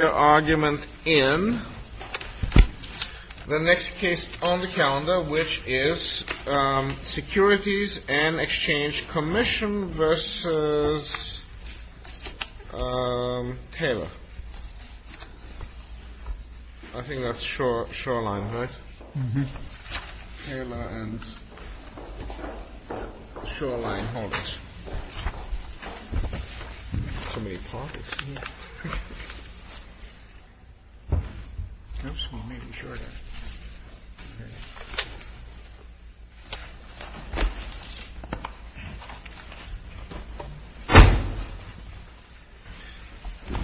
argument in the next case on the calendar, which is Securities and Exchange Commission v. Taylor. I think that's Shoreline, right? Taylor and Shoreline Holdings. Good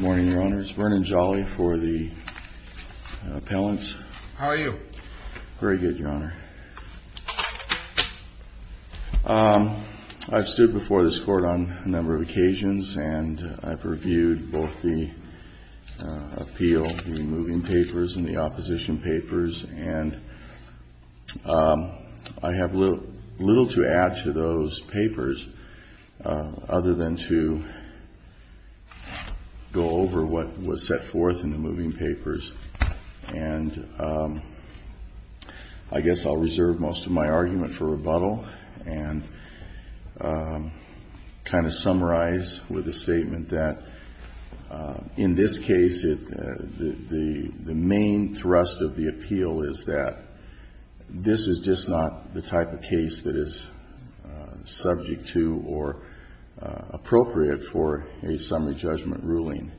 morning, Your Honor. It's Vernon Jolly for the appellants. How are you? Very good, Your Honor. I've stood before this Court on a number of occasions, and I've reviewed both the appeal, the moving papers, and the opposition papers, and I have little to add to those papers other than to go over what was set forth in the moving papers. And I guess I'll reserve most of my argument for rebuttal. And I'm going to summarize with a statement that, in this case, the main thrust of the appeal is that this is just not the type of case that is subject to or appropriate for a summary judgment ruling.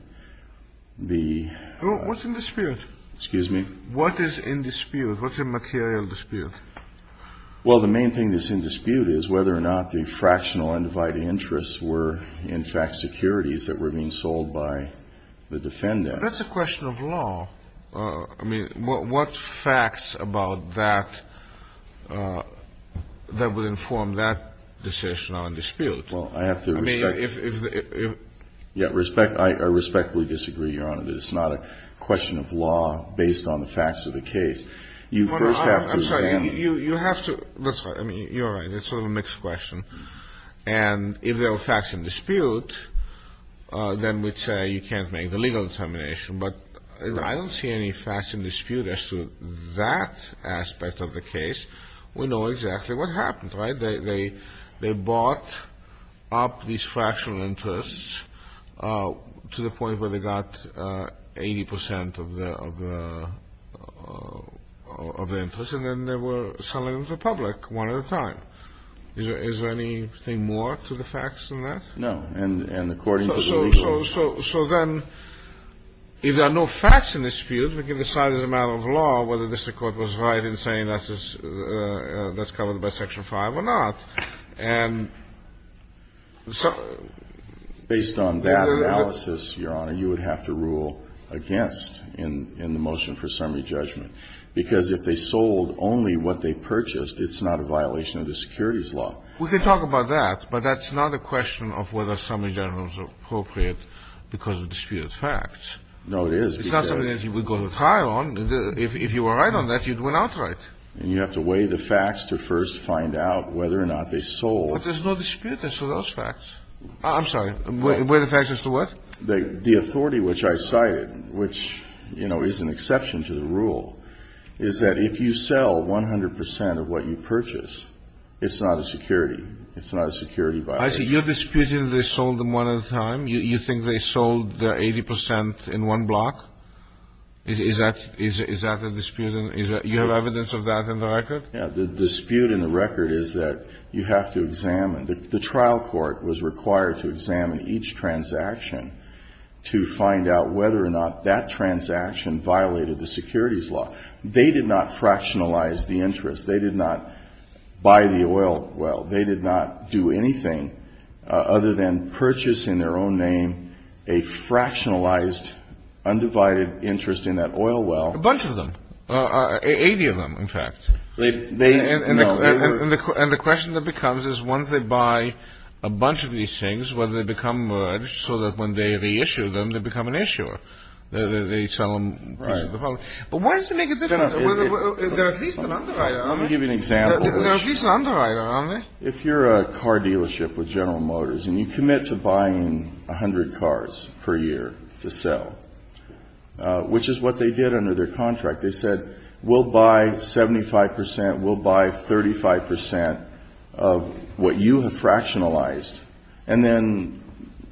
The ---- What's in dispute? Excuse me? What is in dispute? What's a material dispute? Well, the main thing that's in dispute is whether or not the fractional undivided interests were, in fact, securities that were being sold by the defendants. That's a question of law. I mean, what facts about that that would inform that decision on dispute? Well, I have to respect ---- I mean, if the ---- Yeah, respect ---- I respectfully disagree, Your Honor, that it's not a question of law based on the facts of the case. You first have to ---- I'm sorry. You have to ---- I mean, you're right. It's sort of a mixed question. And if there were facts in dispute, then we'd say you can't make the legal determination. But I don't see any facts in dispute as to that aspect of the case. We know exactly what happened, right? They bought up these fractional interests to the point where they got 80 percent of the interest, and then they were selling them to the public one at a time. Is there anything more to the facts than that? No. And according to the legal ---- So then if there are no facts in dispute, we can decide as a matter of law whether the district court was right in saying that's covered by Section 5 or not. And so ---- Based on that analysis, Your Honor, you would have to rule against in the motion for summary judgment. Because if they sold only what they purchased, it's not a violation of the securities law. We can talk about that, but that's not a question of whether summary judgment was appropriate because of dispute of facts. No, it is because ---- It's not something that you would go to trial on. If you were right on that, you'd win outright. And you have to weigh the facts to first find out whether or not they sold. But there's no dispute as to those facts. I'm sorry. Weigh the facts as to what? The authority which I cited, which, you know, is an exception to the rule, is that if you sell 100 percent of what you purchase, it's not a security. It's not a security violation. I see. You're disputing they sold them one at a time. You think they sold the 80 percent in one block? Is that a dispute? You have evidence of that in the record? Yeah. The dispute in the record is that you have to examine. The trial court was required to examine each transaction to find out whether or not that transaction violated the securities law. They did not fractionalize the interest. They did not buy the oil well. They did not do anything other than purchase in their own name a fractionalized, undivided interest in that oil well. A bunch of them. 80 of them, in fact. And the question that becomes is once they buy a bunch of these things, whether they become so that when they reissue them, they become an issuer. They sell them. Right. But why does it make a difference? They're at least an underwriter, aren't they? Let me give you an example. They're at least an underwriter, aren't they? If you're a car dealership with General Motors and you commit to buying 100 cars per year to sell, which is what they did under their contract, they said, we'll buy 75 percent, we'll buy 35 percent of what you have fractionalized, and then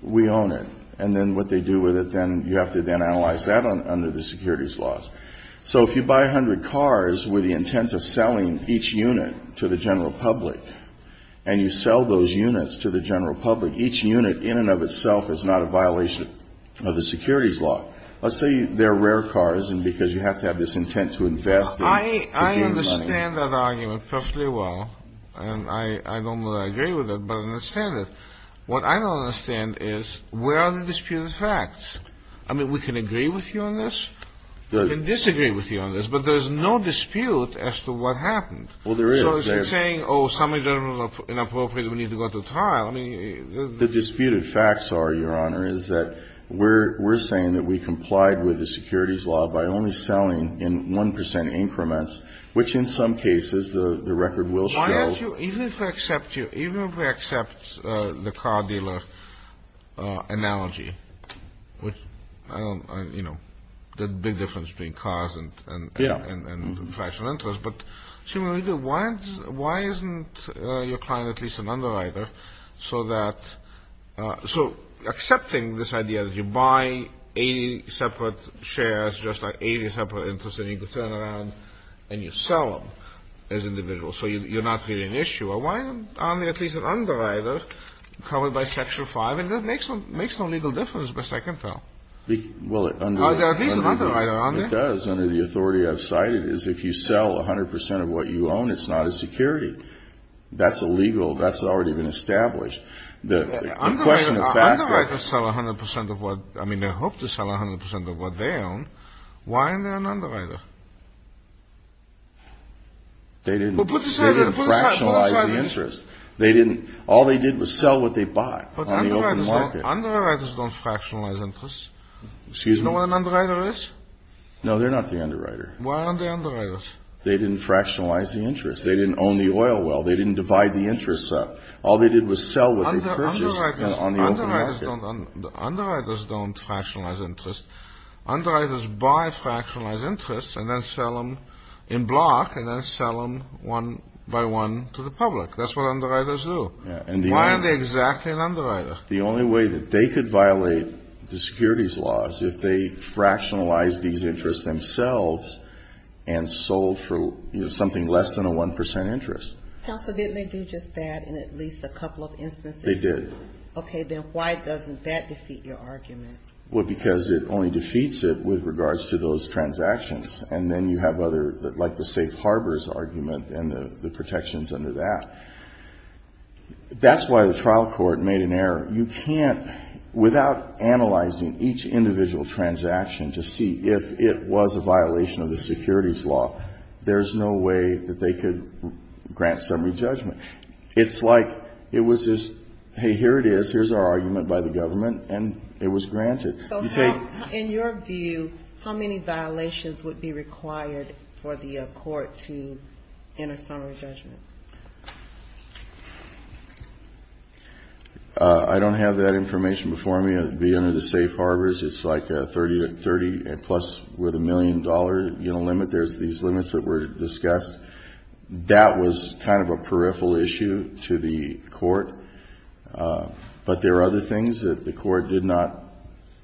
we own it. And then what they do with it, then you have to then analyze that under the securities laws. So if you buy 100 cars with the intent of selling each unit to the general public and you sell those units to the general public, each unit in and of itself is not a violation of the securities law. Let's say they're rare cars, and because you have to have this intent to invest in. I understand that argument perfectly well. And I don't know that I agree with it, but I understand it. What I don't understand is where are the disputed facts? I mean, we can agree with you on this. We can disagree with you on this, but there's no dispute as to what happened. Well, there is. So if you're saying, oh, something is inappropriate, we need to go to trial, I mean. The disputed facts are, Your Honor, is that we're saying that we complied with the securities law by only selling in 1 percent increments, which in some cases the record will show. Even if we accept the car dealer analogy, which, you know, the big difference between cars and fractional interest, but why isn't your client at least an underwriter? So accepting this idea that you buy 80 separate shares, just like 80 separate interests, and you can turn around and you sell them as individuals, so you're not really an issuer. Why aren't they at least an underwriter covered by Section 5? And that makes no legal difference by second thought. Well, under the authority I've cited is if you sell 100 percent of what you own, it's not a security. That's illegal. That's already been established. Underwriters sell 100 percent of what, I mean, they hope to sell 100 percent of what they own. Why aren't they an underwriter? They didn't fractionalize the interest. All they did was sell what they bought. Underwriters don't fractionalize interest. Excuse me? Do you know what an underwriter is? No, they're not the underwriter. Why aren't they underwriters? They didn't fractionalize the interest. They didn't own the oil well. They didn't divide the interest up. All they did was sell what they purchased on the market. Underwriters don't fractionalize interest. Underwriters buy fractionalized interest and then sell them in block and then sell them one by one to the public. That's what underwriters do. Why aren't they exactly an underwriter? The only way that they could violate the securities laws if they fractionalized these interests themselves and sold for something less than a 1% interest. Counsel, didn't they do just that in at least a couple of instances? They did. Okay, then why doesn't that defeat your argument? Well, because it only defeats it with regards to those transactions, and then you have other, like the safe harbors argument and the protections under that. That's why the trial court made an error. You can't, without analyzing each individual transaction to see if it was a violation of the securities law, there's no way that they could grant summary judgment. It's like it was just, hey, here it is, here's our argument by the government, and it was granted. So in your view, how many violations would be required for the court to enter summary judgment? I don't have that information before me. The safe harbors, it's like 30-plus with a million-dollar limit. There's these limits that were discussed. That was kind of a peripheral issue to the court. But there are other things that the court did not,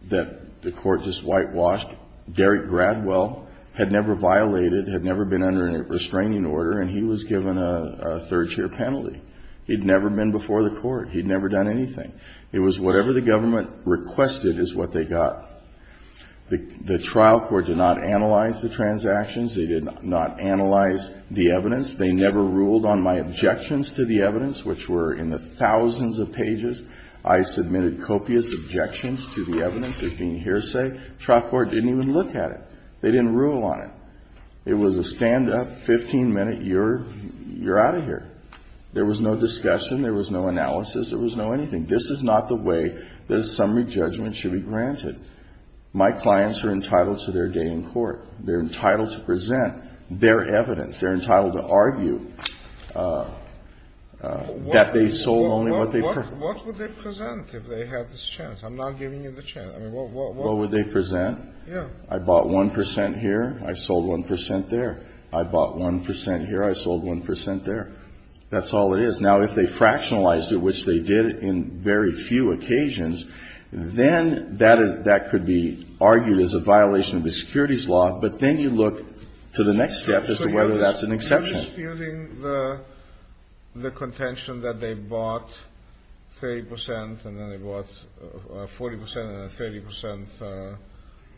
that the court just whitewashed. Derek Gradwell had never violated, had never been under a restraining order, and he was given a third-year penalty. He'd never been before the court. He'd never done anything. It was whatever the government requested is what they got. The trial court did not analyze the transactions. They did not analyze the evidence. They never ruled on my objections to the evidence, which were in the thousands of pages. I submitted copious objections to the evidence as being hearsay. The trial court didn't even look at it. They didn't rule on it. It was a stand-up, 15-minute, you're out of here. There was no discussion. There was no analysis. There was no anything. This is not the way that a summary judgment should be granted. My clients are entitled to their day in court. They're entitled to present their evidence. They're entitled to argue that they sold only what they presented. Scalia. What would they present if they had this chance? I'm not giving you the chance. I mean, what would they present? Yeah. I bought 1 percent here. I sold 1 percent there. I bought 1 percent here. I sold 1 percent there. That's all it is. Now, if they fractionalized it, which they did in very few occasions, then that could be argued as a violation of the securities law, but then you look to the next step as to whether that's an exception. So you're disputing the contention that they bought 30 percent and then they bought 40 percent and then 30 percent,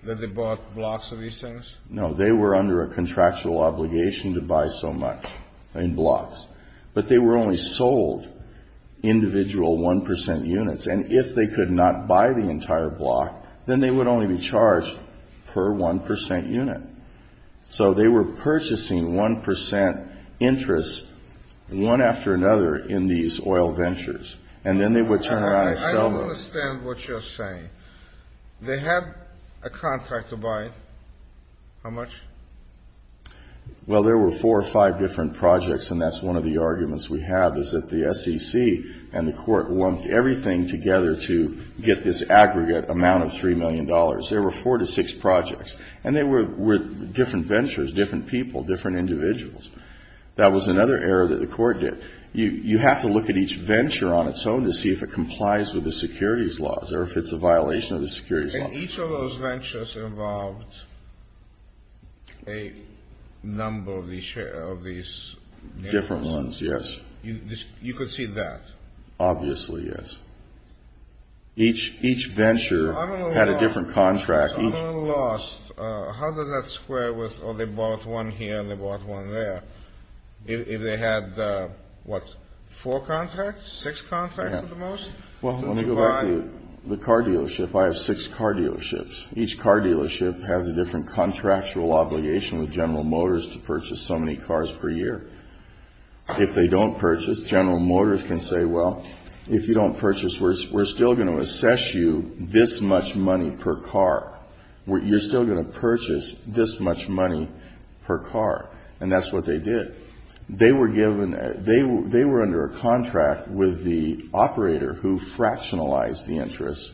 that they bought blocks of these things? No. They were under a contractual obligation to buy so much in blocks, but they were only sold individual 1 percent units, and if they could not buy the entire block, then they would only be charged per 1 percent unit. So they were purchasing 1 percent interest one after another in these oil ventures, and then they would turn around and sell them. I don't understand what you're saying. They had a contract to buy it. How much? Well, there were four or five different projects, and that's one of the arguments we have is that the SEC and the Court lumped everything together to get this aggregate amount of $3 million. There were four to six projects, and they were different ventures, different people, different individuals. That was another error that the Court did. You have to look at each venture on its own to see if it complies with the securities laws or if it's a violation of the securities laws. And each of those ventures involved a number of these names? Different ones, yes. You could see that? Obviously, yes. Each venture had a different contract. I'm at a loss. How does that square with, oh, they bought one here and they bought one there? If they had, what, four contracts, six contracts at the most? Well, let me go back to the car dealership. I have six car dealerships. Each car dealership has a different contractual obligation with General Motors to purchase so many cars per year. If they don't purchase, General Motors can say, well, if you don't purchase, we're still going to assess you this much money per car. You're still going to purchase this much money per car. And that's what they did. They were given, they were under a contract with the operator who fractionalized the interest.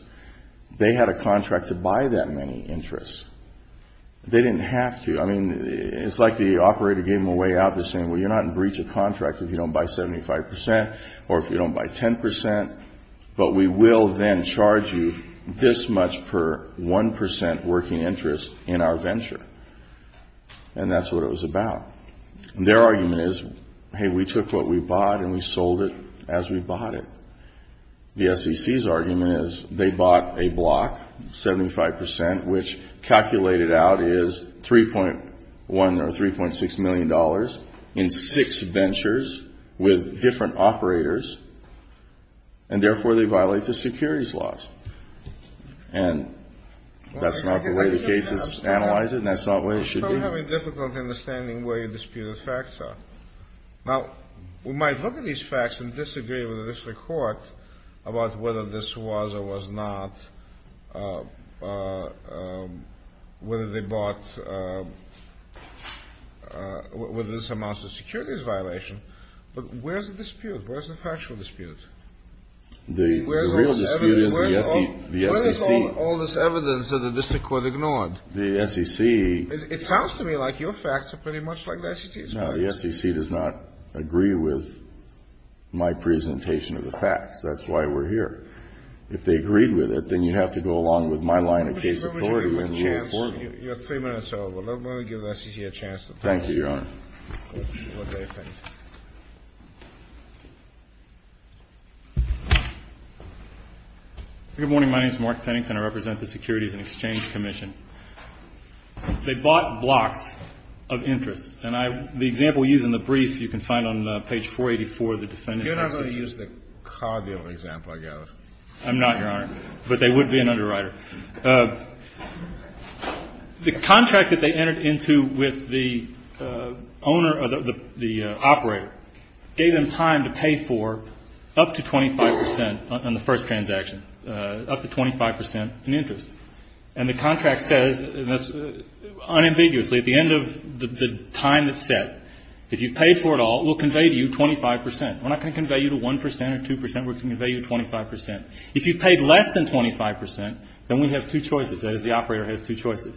They had a contract to buy that many interests. They didn't have to. I mean, it's like the operator gave them a way out. They're saying, well, you're not in breach of contract if you don't buy 75% or if you don't buy 10%. But we will then charge you this much per 1% working interest in our venture. And that's what it was about. Their argument is, hey, we took what we bought and we sold it as we bought it. The SEC's argument is they bought a block, 75%, which calculated out is $3.1 or $3.6 million in six ventures with different operators. And therefore, they violate the securities laws. And that's not the way the case is analyzed, and that's not the way it should be. You're having a difficult understanding where your disputed facts are. Now, we might look at these facts and disagree with the district court about whether this was or was not, whether they bought, whether this amounts to securities violation. But where's the dispute? Where's the factual dispute? The real dispute is the SEC. Where is all this evidence that the district court ignored? The SEC. It sounds to me like your facts are pretty much like the SEC's. No. The SEC does not agree with my presentation of the facts. That's why we're here. If they agreed with it, then you'd have to go along with my line of case authority and rule accordingly. Your three minutes are over. Let me give the SEC a chance to finish. Thank you, Your Honor. Good morning. My name is Mark Pennington. I represent the Securities and Exchange Commission. They bought blocks of interest. And the example we use in the brief, you can find on page 484 of the defendant's execution. You're not going to use the car deal example, I gather. I'm not, Your Honor. But they would be an underwriter. The contract that they entered into with the owner or the operator gave them time to pay for up to 25 percent on the first transaction, up to 25 percent in interest. And the contract says, unambiguously, at the end of the time that's set, if you've paid for it all, we'll convey to you 25 percent. We're not going to convey you to 1 percent or 2 percent. We're going to convey you 25 percent. If you've paid less than 25 percent, then we have two choices. That is, the operator has two choices.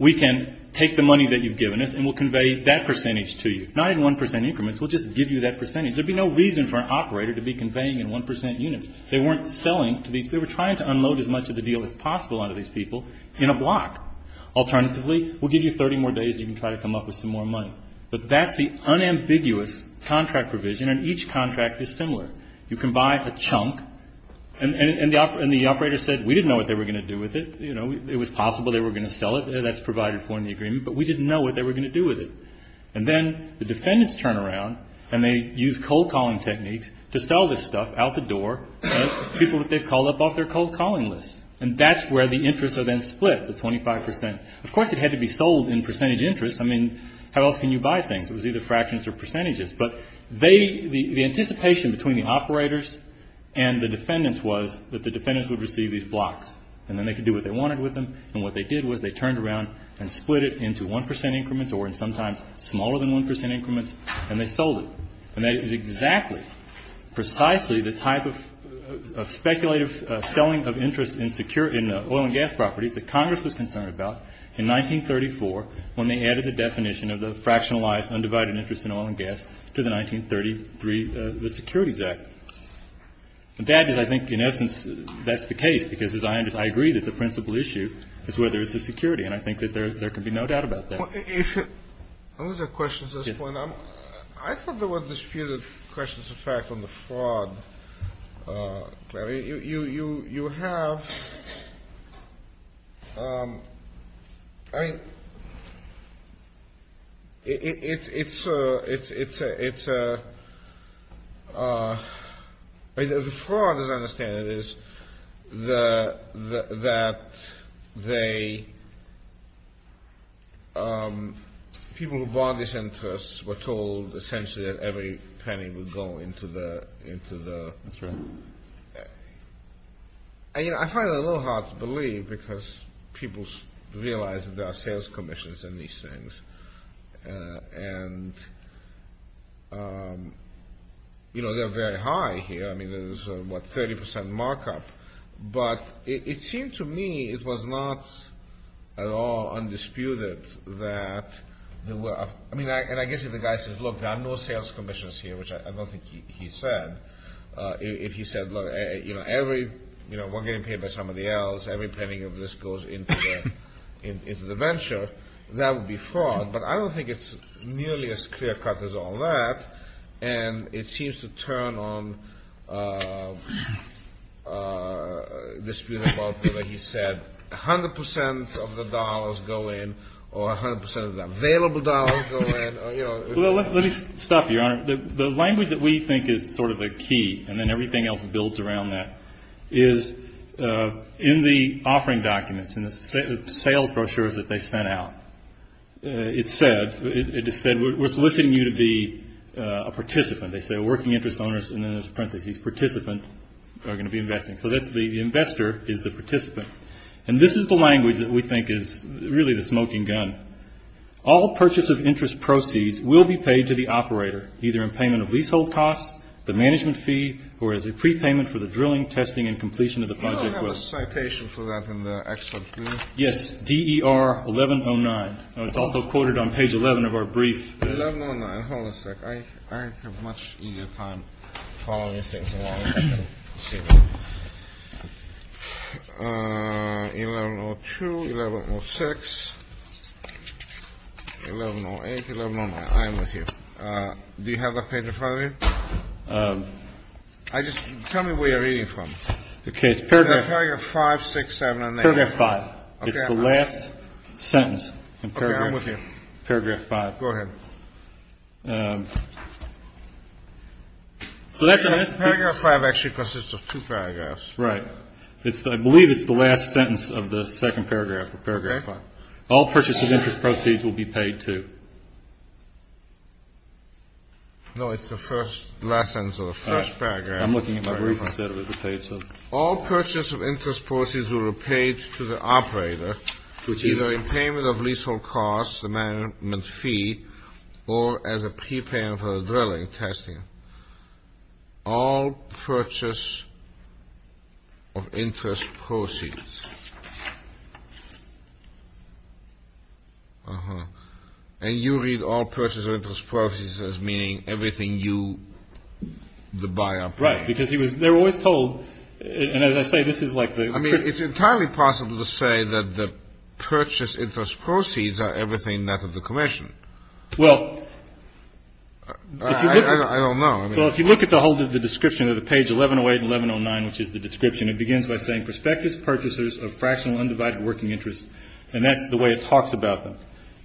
We can take the money that you've given us and we'll convey that percentage to you. Not in 1 percent increments. We'll just give you that percentage. There'd be no reason for an operator to be conveying in 1 percent units. They weren't selling to these people. They were trying to unload as much of the deal as possible onto these people in a block. Alternatively, we'll give you 30 more days and you can try to come up with some more money. But that's the unambiguous contract provision, and each contract is similar. You can buy a chunk, and the operator said, we didn't know what they were going to do with it. It was possible they were going to sell it. That's provided for in the agreement. But we didn't know what they were going to do with it. And then the defendants turn around and they use cold calling techniques to sell this stuff out the door. People that they've called up off their cold calling list. And that's where the interests are then split, the 25 percent. Of course, it had to be sold in percentage interest. I mean, how else can you buy things? It was either fractions or percentages. But the anticipation between the operators and the defendants was that the defendants would receive these blocks. And then they could do what they wanted with them. And what they did was they turned around and split it into 1 percent increments or in sometimes smaller than 1 percent increments, and they sold it. And that is exactly, precisely the type of speculative selling of interest in oil and gas properties that Congress was concerned about in 1934, when they added the definition of the fractionalized undivided interest in oil and gas to the 1933 Securities Act. And that is, I think, in essence, that's the case, because I agree that the principal issue is whether it's a security. And I think that there can be no doubt about that. I don't know if there are questions at this point. I thought there were disputed questions, in fact, on the fraud. I mean, you have – I mean, it's – I mean, the fraud, as I understand it, is that they – That's right. I find it a little hard to believe, because people realize that there are sales commissions in these things. And, you know, they're very high here. I mean, there's, what, 30 percent markup. But it seemed to me it was not at all undisputed that there were – I mean, and I guess if the guy says, look, there are no sales commissions here, which I don't think he said, if he said, look, you know, every – you know, we're getting paid by somebody else, every penny of this goes into the venture, that would be fraud. But I don't think it's nearly as clear-cut as all that. And it seems to turn on dispute about whether he said 100 percent of the dollars go in or 100 percent of the available dollars go in, you know. Well, let me stop you, Your Honor. The language that we think is sort of a key, and then everything else builds around that, is in the offering documents, in the sales brochures that they sent out, it said, we're soliciting you to be a participant. They say, working interest owners, and then there's parentheses, participant, are going to be investing. So that's the investor is the participant. And this is the language that we think is really the smoking gun. All purchase of interest proceeds will be paid to the operator, either in payment of leasehold costs, the management fee, or as a prepayment for the drilling, testing, and completion of the project. May I have a citation for that in the excerpt, please? Yes, DER 1109. It's also quoted on page 11 of our brief. 1109. Hold on a sec. I have a much easier time following these things along. 1102, 1106, 1108, 1109. I am with you. Do you have that page in front of you? Tell me where you're reading from. Okay, it's paragraph 5, 6, 7, and 8. Paragraph 5. It's the last sentence in paragraph 5. Go ahead. Paragraph 5 actually consists of two paragraphs. Right. I believe it's the last sentence of the second paragraph, paragraph 5. All purchase of interest proceeds will be paid to. No, it's the first, last sentence of the first paragraph. I'm looking at my brief. All purchase of interest proceeds will be paid to the operator, either in payment of leasehold costs, the management fee, or as a prepayment for the dwelling testing. All purchase of interest proceeds. And you read all purchase of interest proceeds as meaning everything you, the buyer, paid. Right, because they're always told, and as I say, this is like the. I mean, it's entirely possible to say that the purchase interest proceeds are everything that of the commission. Well. I don't know. Well, if you look at the whole description of the page 1108 and 1109, which is the description, it begins by saying prospectus purchasers of fractional undivided working interest. And that's the way it talks about them.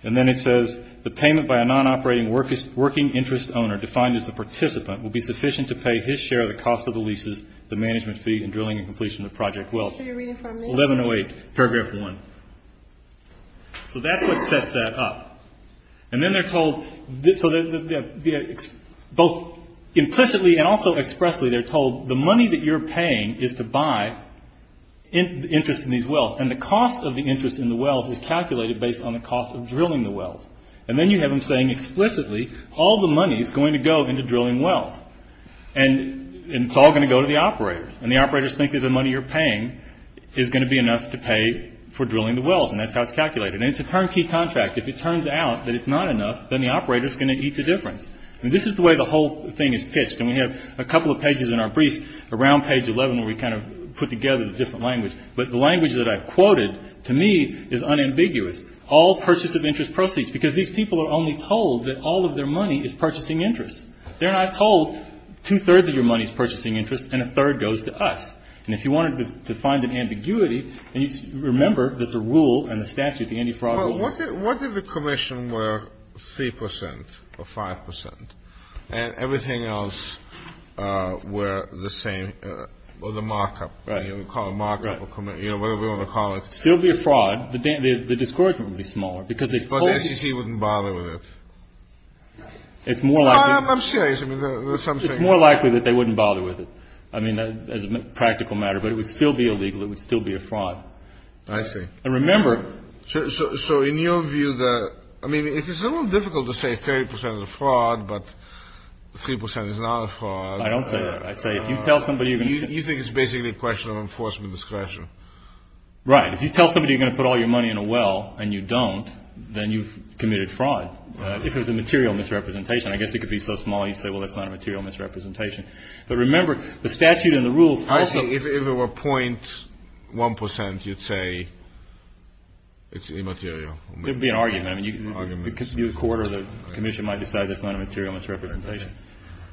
And then it says the payment by a non-operating working interest owner defined as a participant will be sufficient to pay his share of the cost of the leases, the management fee, and drilling and completion of project wells. 1108, paragraph one. So that's what sets that up. And then they're told. So both implicitly and also expressly, they're told the money that you're paying is to buy interest in these wells. And the cost of the interest in the wells is calculated based on the cost of drilling the wells. And then you have them saying explicitly all the money is going to go into drilling wells. And it's all going to go to the operators. And the operators think that the money you're paying is going to be enough to pay for drilling the wells. And that's how it's calculated. And it's a turnkey contract. If it turns out that it's not enough, then the operator is going to eat the difference. And this is the way the whole thing is pitched. And we have a couple of pages in our brief around page 11 where we kind of put together the different language. But the language that I've quoted, to me, is unambiguous. All purchase of interest proceeds. Because these people are only told that all of their money is purchasing interest. They're not told two-thirds of your money is purchasing interest and a third goes to us. And if you wanted to find an ambiguity, then you'd remember that the rule and the statute, the anti-fraud rule. What if the commission were 3 percent or 5 percent and everything else were the same or the markup? Right. You know, we call it markup or commission. Right. You know, whatever you want to call it. Still be a fraud. The discouragement would be smaller because they thought they wouldn't bother with it. It's more like I'm serious. Something more likely that they wouldn't bother with it. I mean, as a practical matter. But it would still be illegal. It would still be a fraud. I see. I remember. So in your view, the I mean, if it's a little difficult to say 30 percent of the fraud, but 3 percent is not a fraud. I don't say that. I say if you tell somebody you think it's basically a question of enforcement discretion. Right. If you tell somebody you're going to put all your money in a well and you don't, then you've committed fraud. If it was a material misrepresentation, I guess it could be so small you say, well, that's not a material misrepresentation. But remember, the statute and the rules. I see. If it were 0.1 percent, you'd say it's immaterial. It would be an argument. I mean, you could be a court or the commission might decide that's not a material misrepresentation.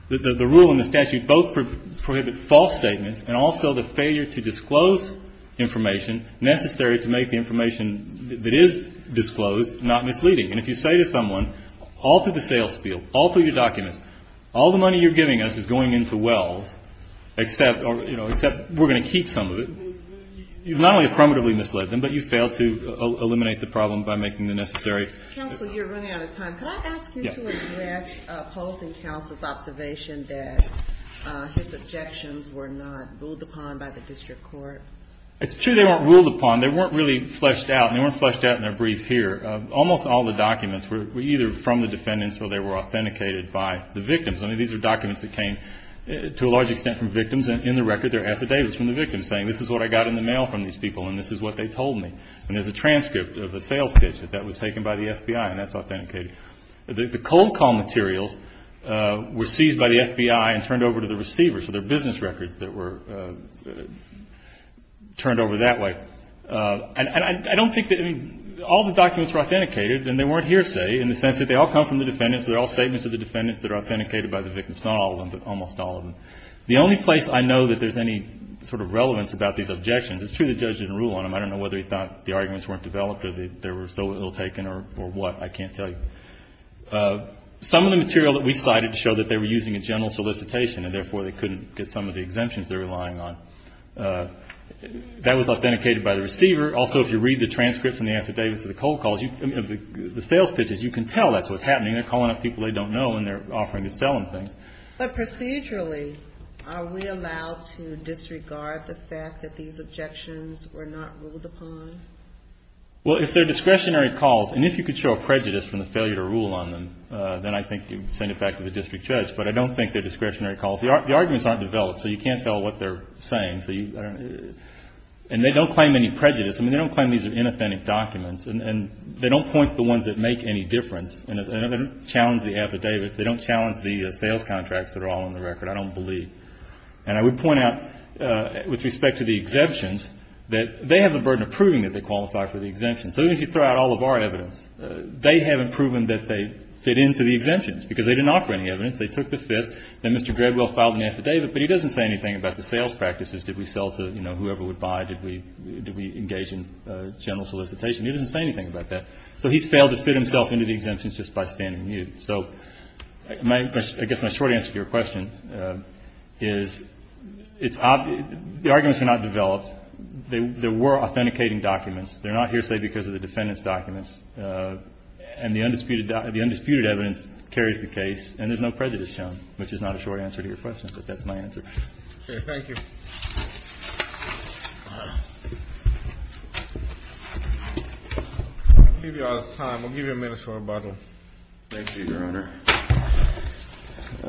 The rule and the statute both prohibit false statements and also the failure to disclose information necessary to make the information that is disclosed not misleading. And if you say to someone, all through the sales field, all through your documents, all the money you're giving us is going into wells, except we're going to keep some of it, you've not only affirmatively misled them, but you've failed to eliminate the problem by making the necessary. Counsel, you're running out of time. Could I ask you to address Polson Counsel's observation that his objections were not ruled upon by the district court? It's true they weren't ruled upon. They weren't really fleshed out. They weren't fleshed out in their brief here. Almost all the documents were either from the defendants or they were authenticated by the victims. I mean, these are documents that came to a large extent from victims. In the record, there are affidavits from the victims saying this is what I got in the mail from these people and this is what they told me. And there's a transcript of a sales pitch that that was taken by the FBI and that's authenticated. The cold call materials were seized by the FBI and turned over to the receiver. So there are business records that were turned over that way. And I don't think that any of the documents were authenticated and they weren't hearsay in the sense that they all come from the defendants, they're all statements of the defendants that are authenticated by the victims, not all of them, but almost all of them. The only place I know that there's any sort of relevance about these objections, it's true the judge didn't rule on them. I don't know whether he thought the arguments weren't developed or they were so ill taken or what. I can't tell you. Some of the material that we cited showed that they were using a general solicitation and, therefore, they couldn't get some of the exemptions they were relying on. That was authenticated by the receiver. Also, if you read the transcript from the affidavits of the cold calls, the sales pitches, you can tell that's what's happening. They're calling up people they don't know and they're offering to sell them things. But procedurally, are we allowed to disregard the fact that these objections were not ruled upon? Well, if they're discretionary calls, and if you could show a prejudice from the failure to rule on them, then I think you would send it back to the district judge. But I don't think they're discretionary calls. The arguments aren't developed, so you can't tell what they're saying. And they don't claim any prejudice. I mean, they don't claim these are inauthentic documents. And they don't point to the ones that make any difference. And they don't challenge the affidavits. They don't challenge the sales contracts that are all on the record, I don't believe. And I would point out, with respect to the exemptions, that they have the burden of proving that they qualify for the exemptions. So even if you throw out all of our evidence, they haven't proven that they fit into the exemptions, because they didn't offer any evidence. They took the fit. Then Mr. Gradwell filed an affidavit, but he doesn't say anything about the sales practices. Did we sell to, you know, whoever would buy? Did we engage in general solicitation? He doesn't say anything about that. So he's failed to fit himself into the exemptions just by standing mute. So I guess my short answer to your question is the arguments are not developed. They were authenticating documents. They're not hearsay because of the defendant's documents. And the undisputed evidence carries the case. And there's no prejudice shown, which is not a short answer to your question. But that's my answer. Okay. Thank you. I'll give you all the time. I'll give you a minute for a bottle. Thank you, Your Honor.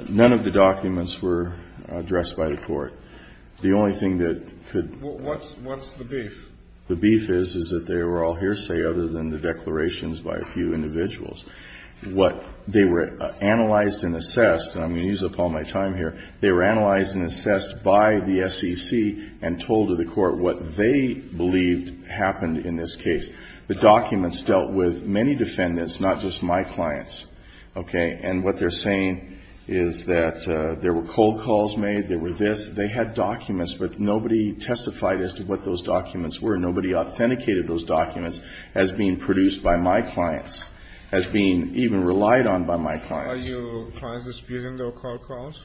None of the documents were addressed by the court. The only thing that could be. What's the beef? The beef is, is that they were all hearsay other than the declarations by a few individuals. What they were analyzed and assessed, and I'm going to use up all my time here, they were analyzed and assessed by the SEC and told to the court what they believed happened in this case. The documents dealt with many defendants, not just my clients. Okay. And what they're saying is that there were cold calls made, there were this. They had documents, but nobody testified as to what those documents were. Nobody authenticated those documents as being produced by my clients, as being even relied on by my clients. Are your clients disputing those cold calls?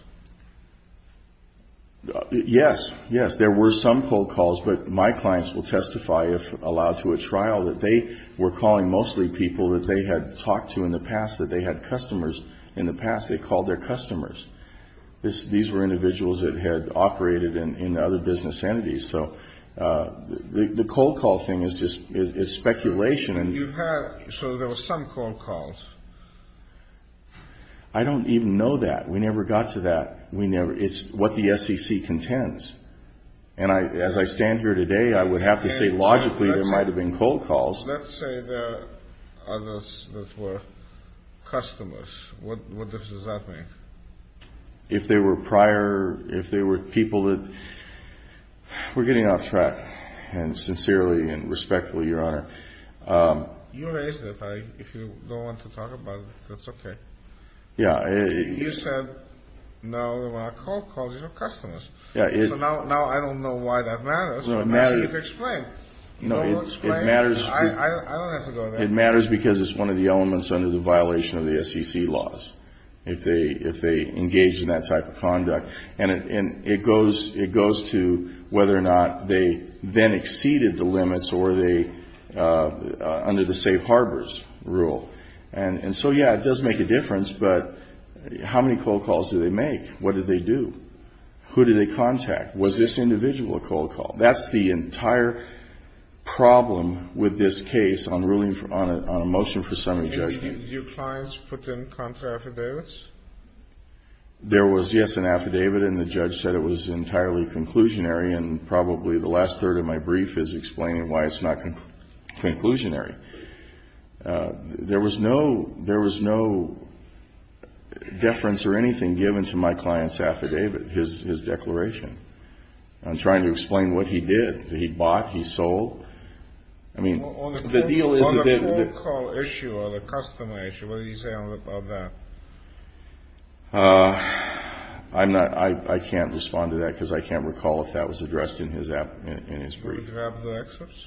Yes. Yes. There were some cold calls, but my clients will testify if allowed to a trial that they were calling mostly people that they had talked to in the past, that they had customers. In the past, they called their customers. These were individuals that had operated in other business entities. So the cold call thing is just speculation. So there were some cold calls. I don't even know that. We never got to that. It's what the SEC contends. And as I stand here today, I would have to say logically there might have been cold calls. Let's say there are others that were customers. What difference does that make? If they were prior, if they were people that were getting off track, and sincerely and respectfully, Your Honor. You raised it. If you don't want to talk about it, that's okay. Yeah. You said, no, there were cold calls. They were customers. Yeah. So now I don't know why that matters. Actually, you could explain. No, it matters. I don't have to go there. It matters because it's one of the elements under the violation of the SEC laws. If they engage in that type of conduct. And it goes to whether or not they then exceeded the limits under the safe harbors rule. And so, yeah, it does make a difference. But how many cold calls did they make? What did they do? Who did they contact? Was this individual a cold call? That's the entire problem with this case on a motion for summary judgment. Did your clients put in contra affidavits? There was, yes, an affidavit. And the judge said it was entirely conclusionary. And probably the last third of my brief is explaining why it's not conclusionary. There was no deference or anything given to my client's affidavit, his declaration. I'm trying to explain what he did. He bought. He sold. On the cold call issue or the customer issue, what did he say about that? I can't respond to that because I can't recall if that was addressed in his brief. Do you want to grab the excerpts?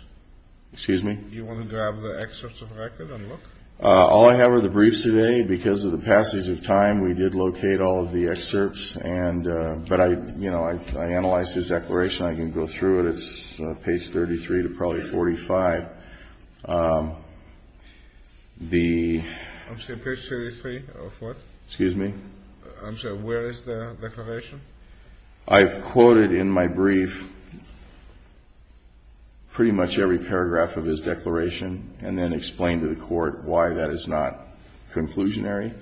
Excuse me? Do you want to grab the excerpts of the record and look? All I have are the briefs today. Because of the passage of time, we did locate all of the excerpts. But I analyzed his declaration. I can go through it. It's page 33 to probably 45. The. I'm sorry, page 33 of what? Excuse me? I'm sorry, where is the declaration? I've quoted in my brief pretty much every paragraph of his declaration and then explained to the court why that is not conclusionary,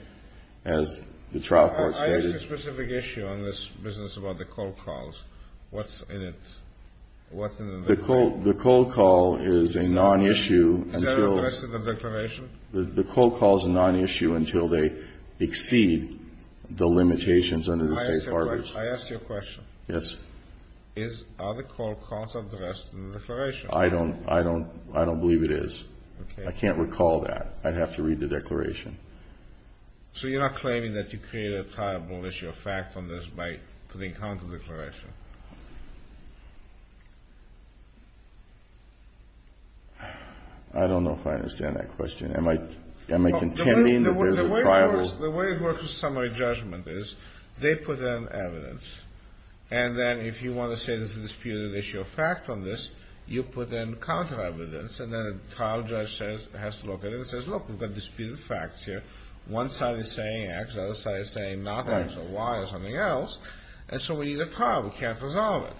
as the trial court stated. I asked a specific issue on this business about the cold calls. What's in it? What's in the. The cold call is a non-issue. Is that addressed in the declaration? The cold call is a non-issue until they exceed the limitations under the safe harbors. May I ask you a question? Yes. Are the cold calls addressed in the declaration? I don't believe it is. Okay. I can't recall that. I'd have to read the declaration. So you're not claiming that you created a triable issue of fact on this by putting counter declaration? I don't know if I understand that question. Am I contending that there's a triable. The way it works in summary judgment is they put in evidence. And then if you want to say there's a disputed issue of fact on this, you put in counter evidence. And then a trial judge says, has to look at it and says, look, we've got disputed facts here. One side is saying X. The other side is saying not X or Y or something else. And so we need a trial. We can't resolve it.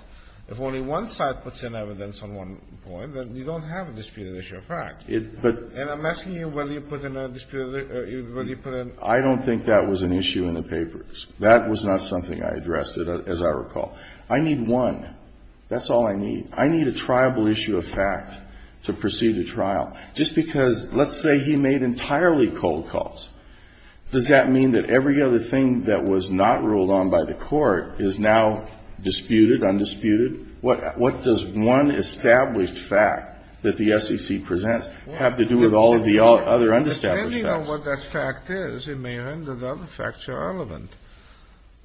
If only one side puts in evidence on one point, then you don't have a disputed issue of fact. And I'm asking you whether you put in a disputed, whether you put in. I don't think that was an issue in the papers. That was not something I addressed, as I recall. I need one. That's all I need. I need a triable issue of fact to proceed a trial. Just because, let's say he made entirely cold calls. Does that mean that every other thing that was not ruled on by the Court is now disputed, undisputed? What does one established fact that the SEC presents have to do with all of the other understaffed facts? Depending on what that fact is, it may end with other facts that are relevant.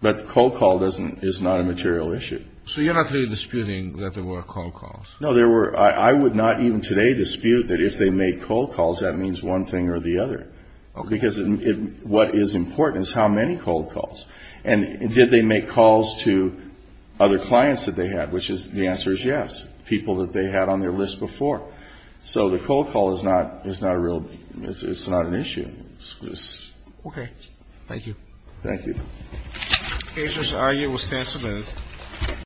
But cold call doesn't, is not a material issue. So you're not really disputing that there were cold calls? No, there were. I would not even today dispute that if they made cold calls, that means one thing or the other. Okay. Because what is important is how many cold calls. And did they make calls to other clients that they had, which is, the answer is yes, people that they had on their list before. So the cold call is not a real, it's not an issue. Okay. Thank you. Thank you. Patients, are you sentiments?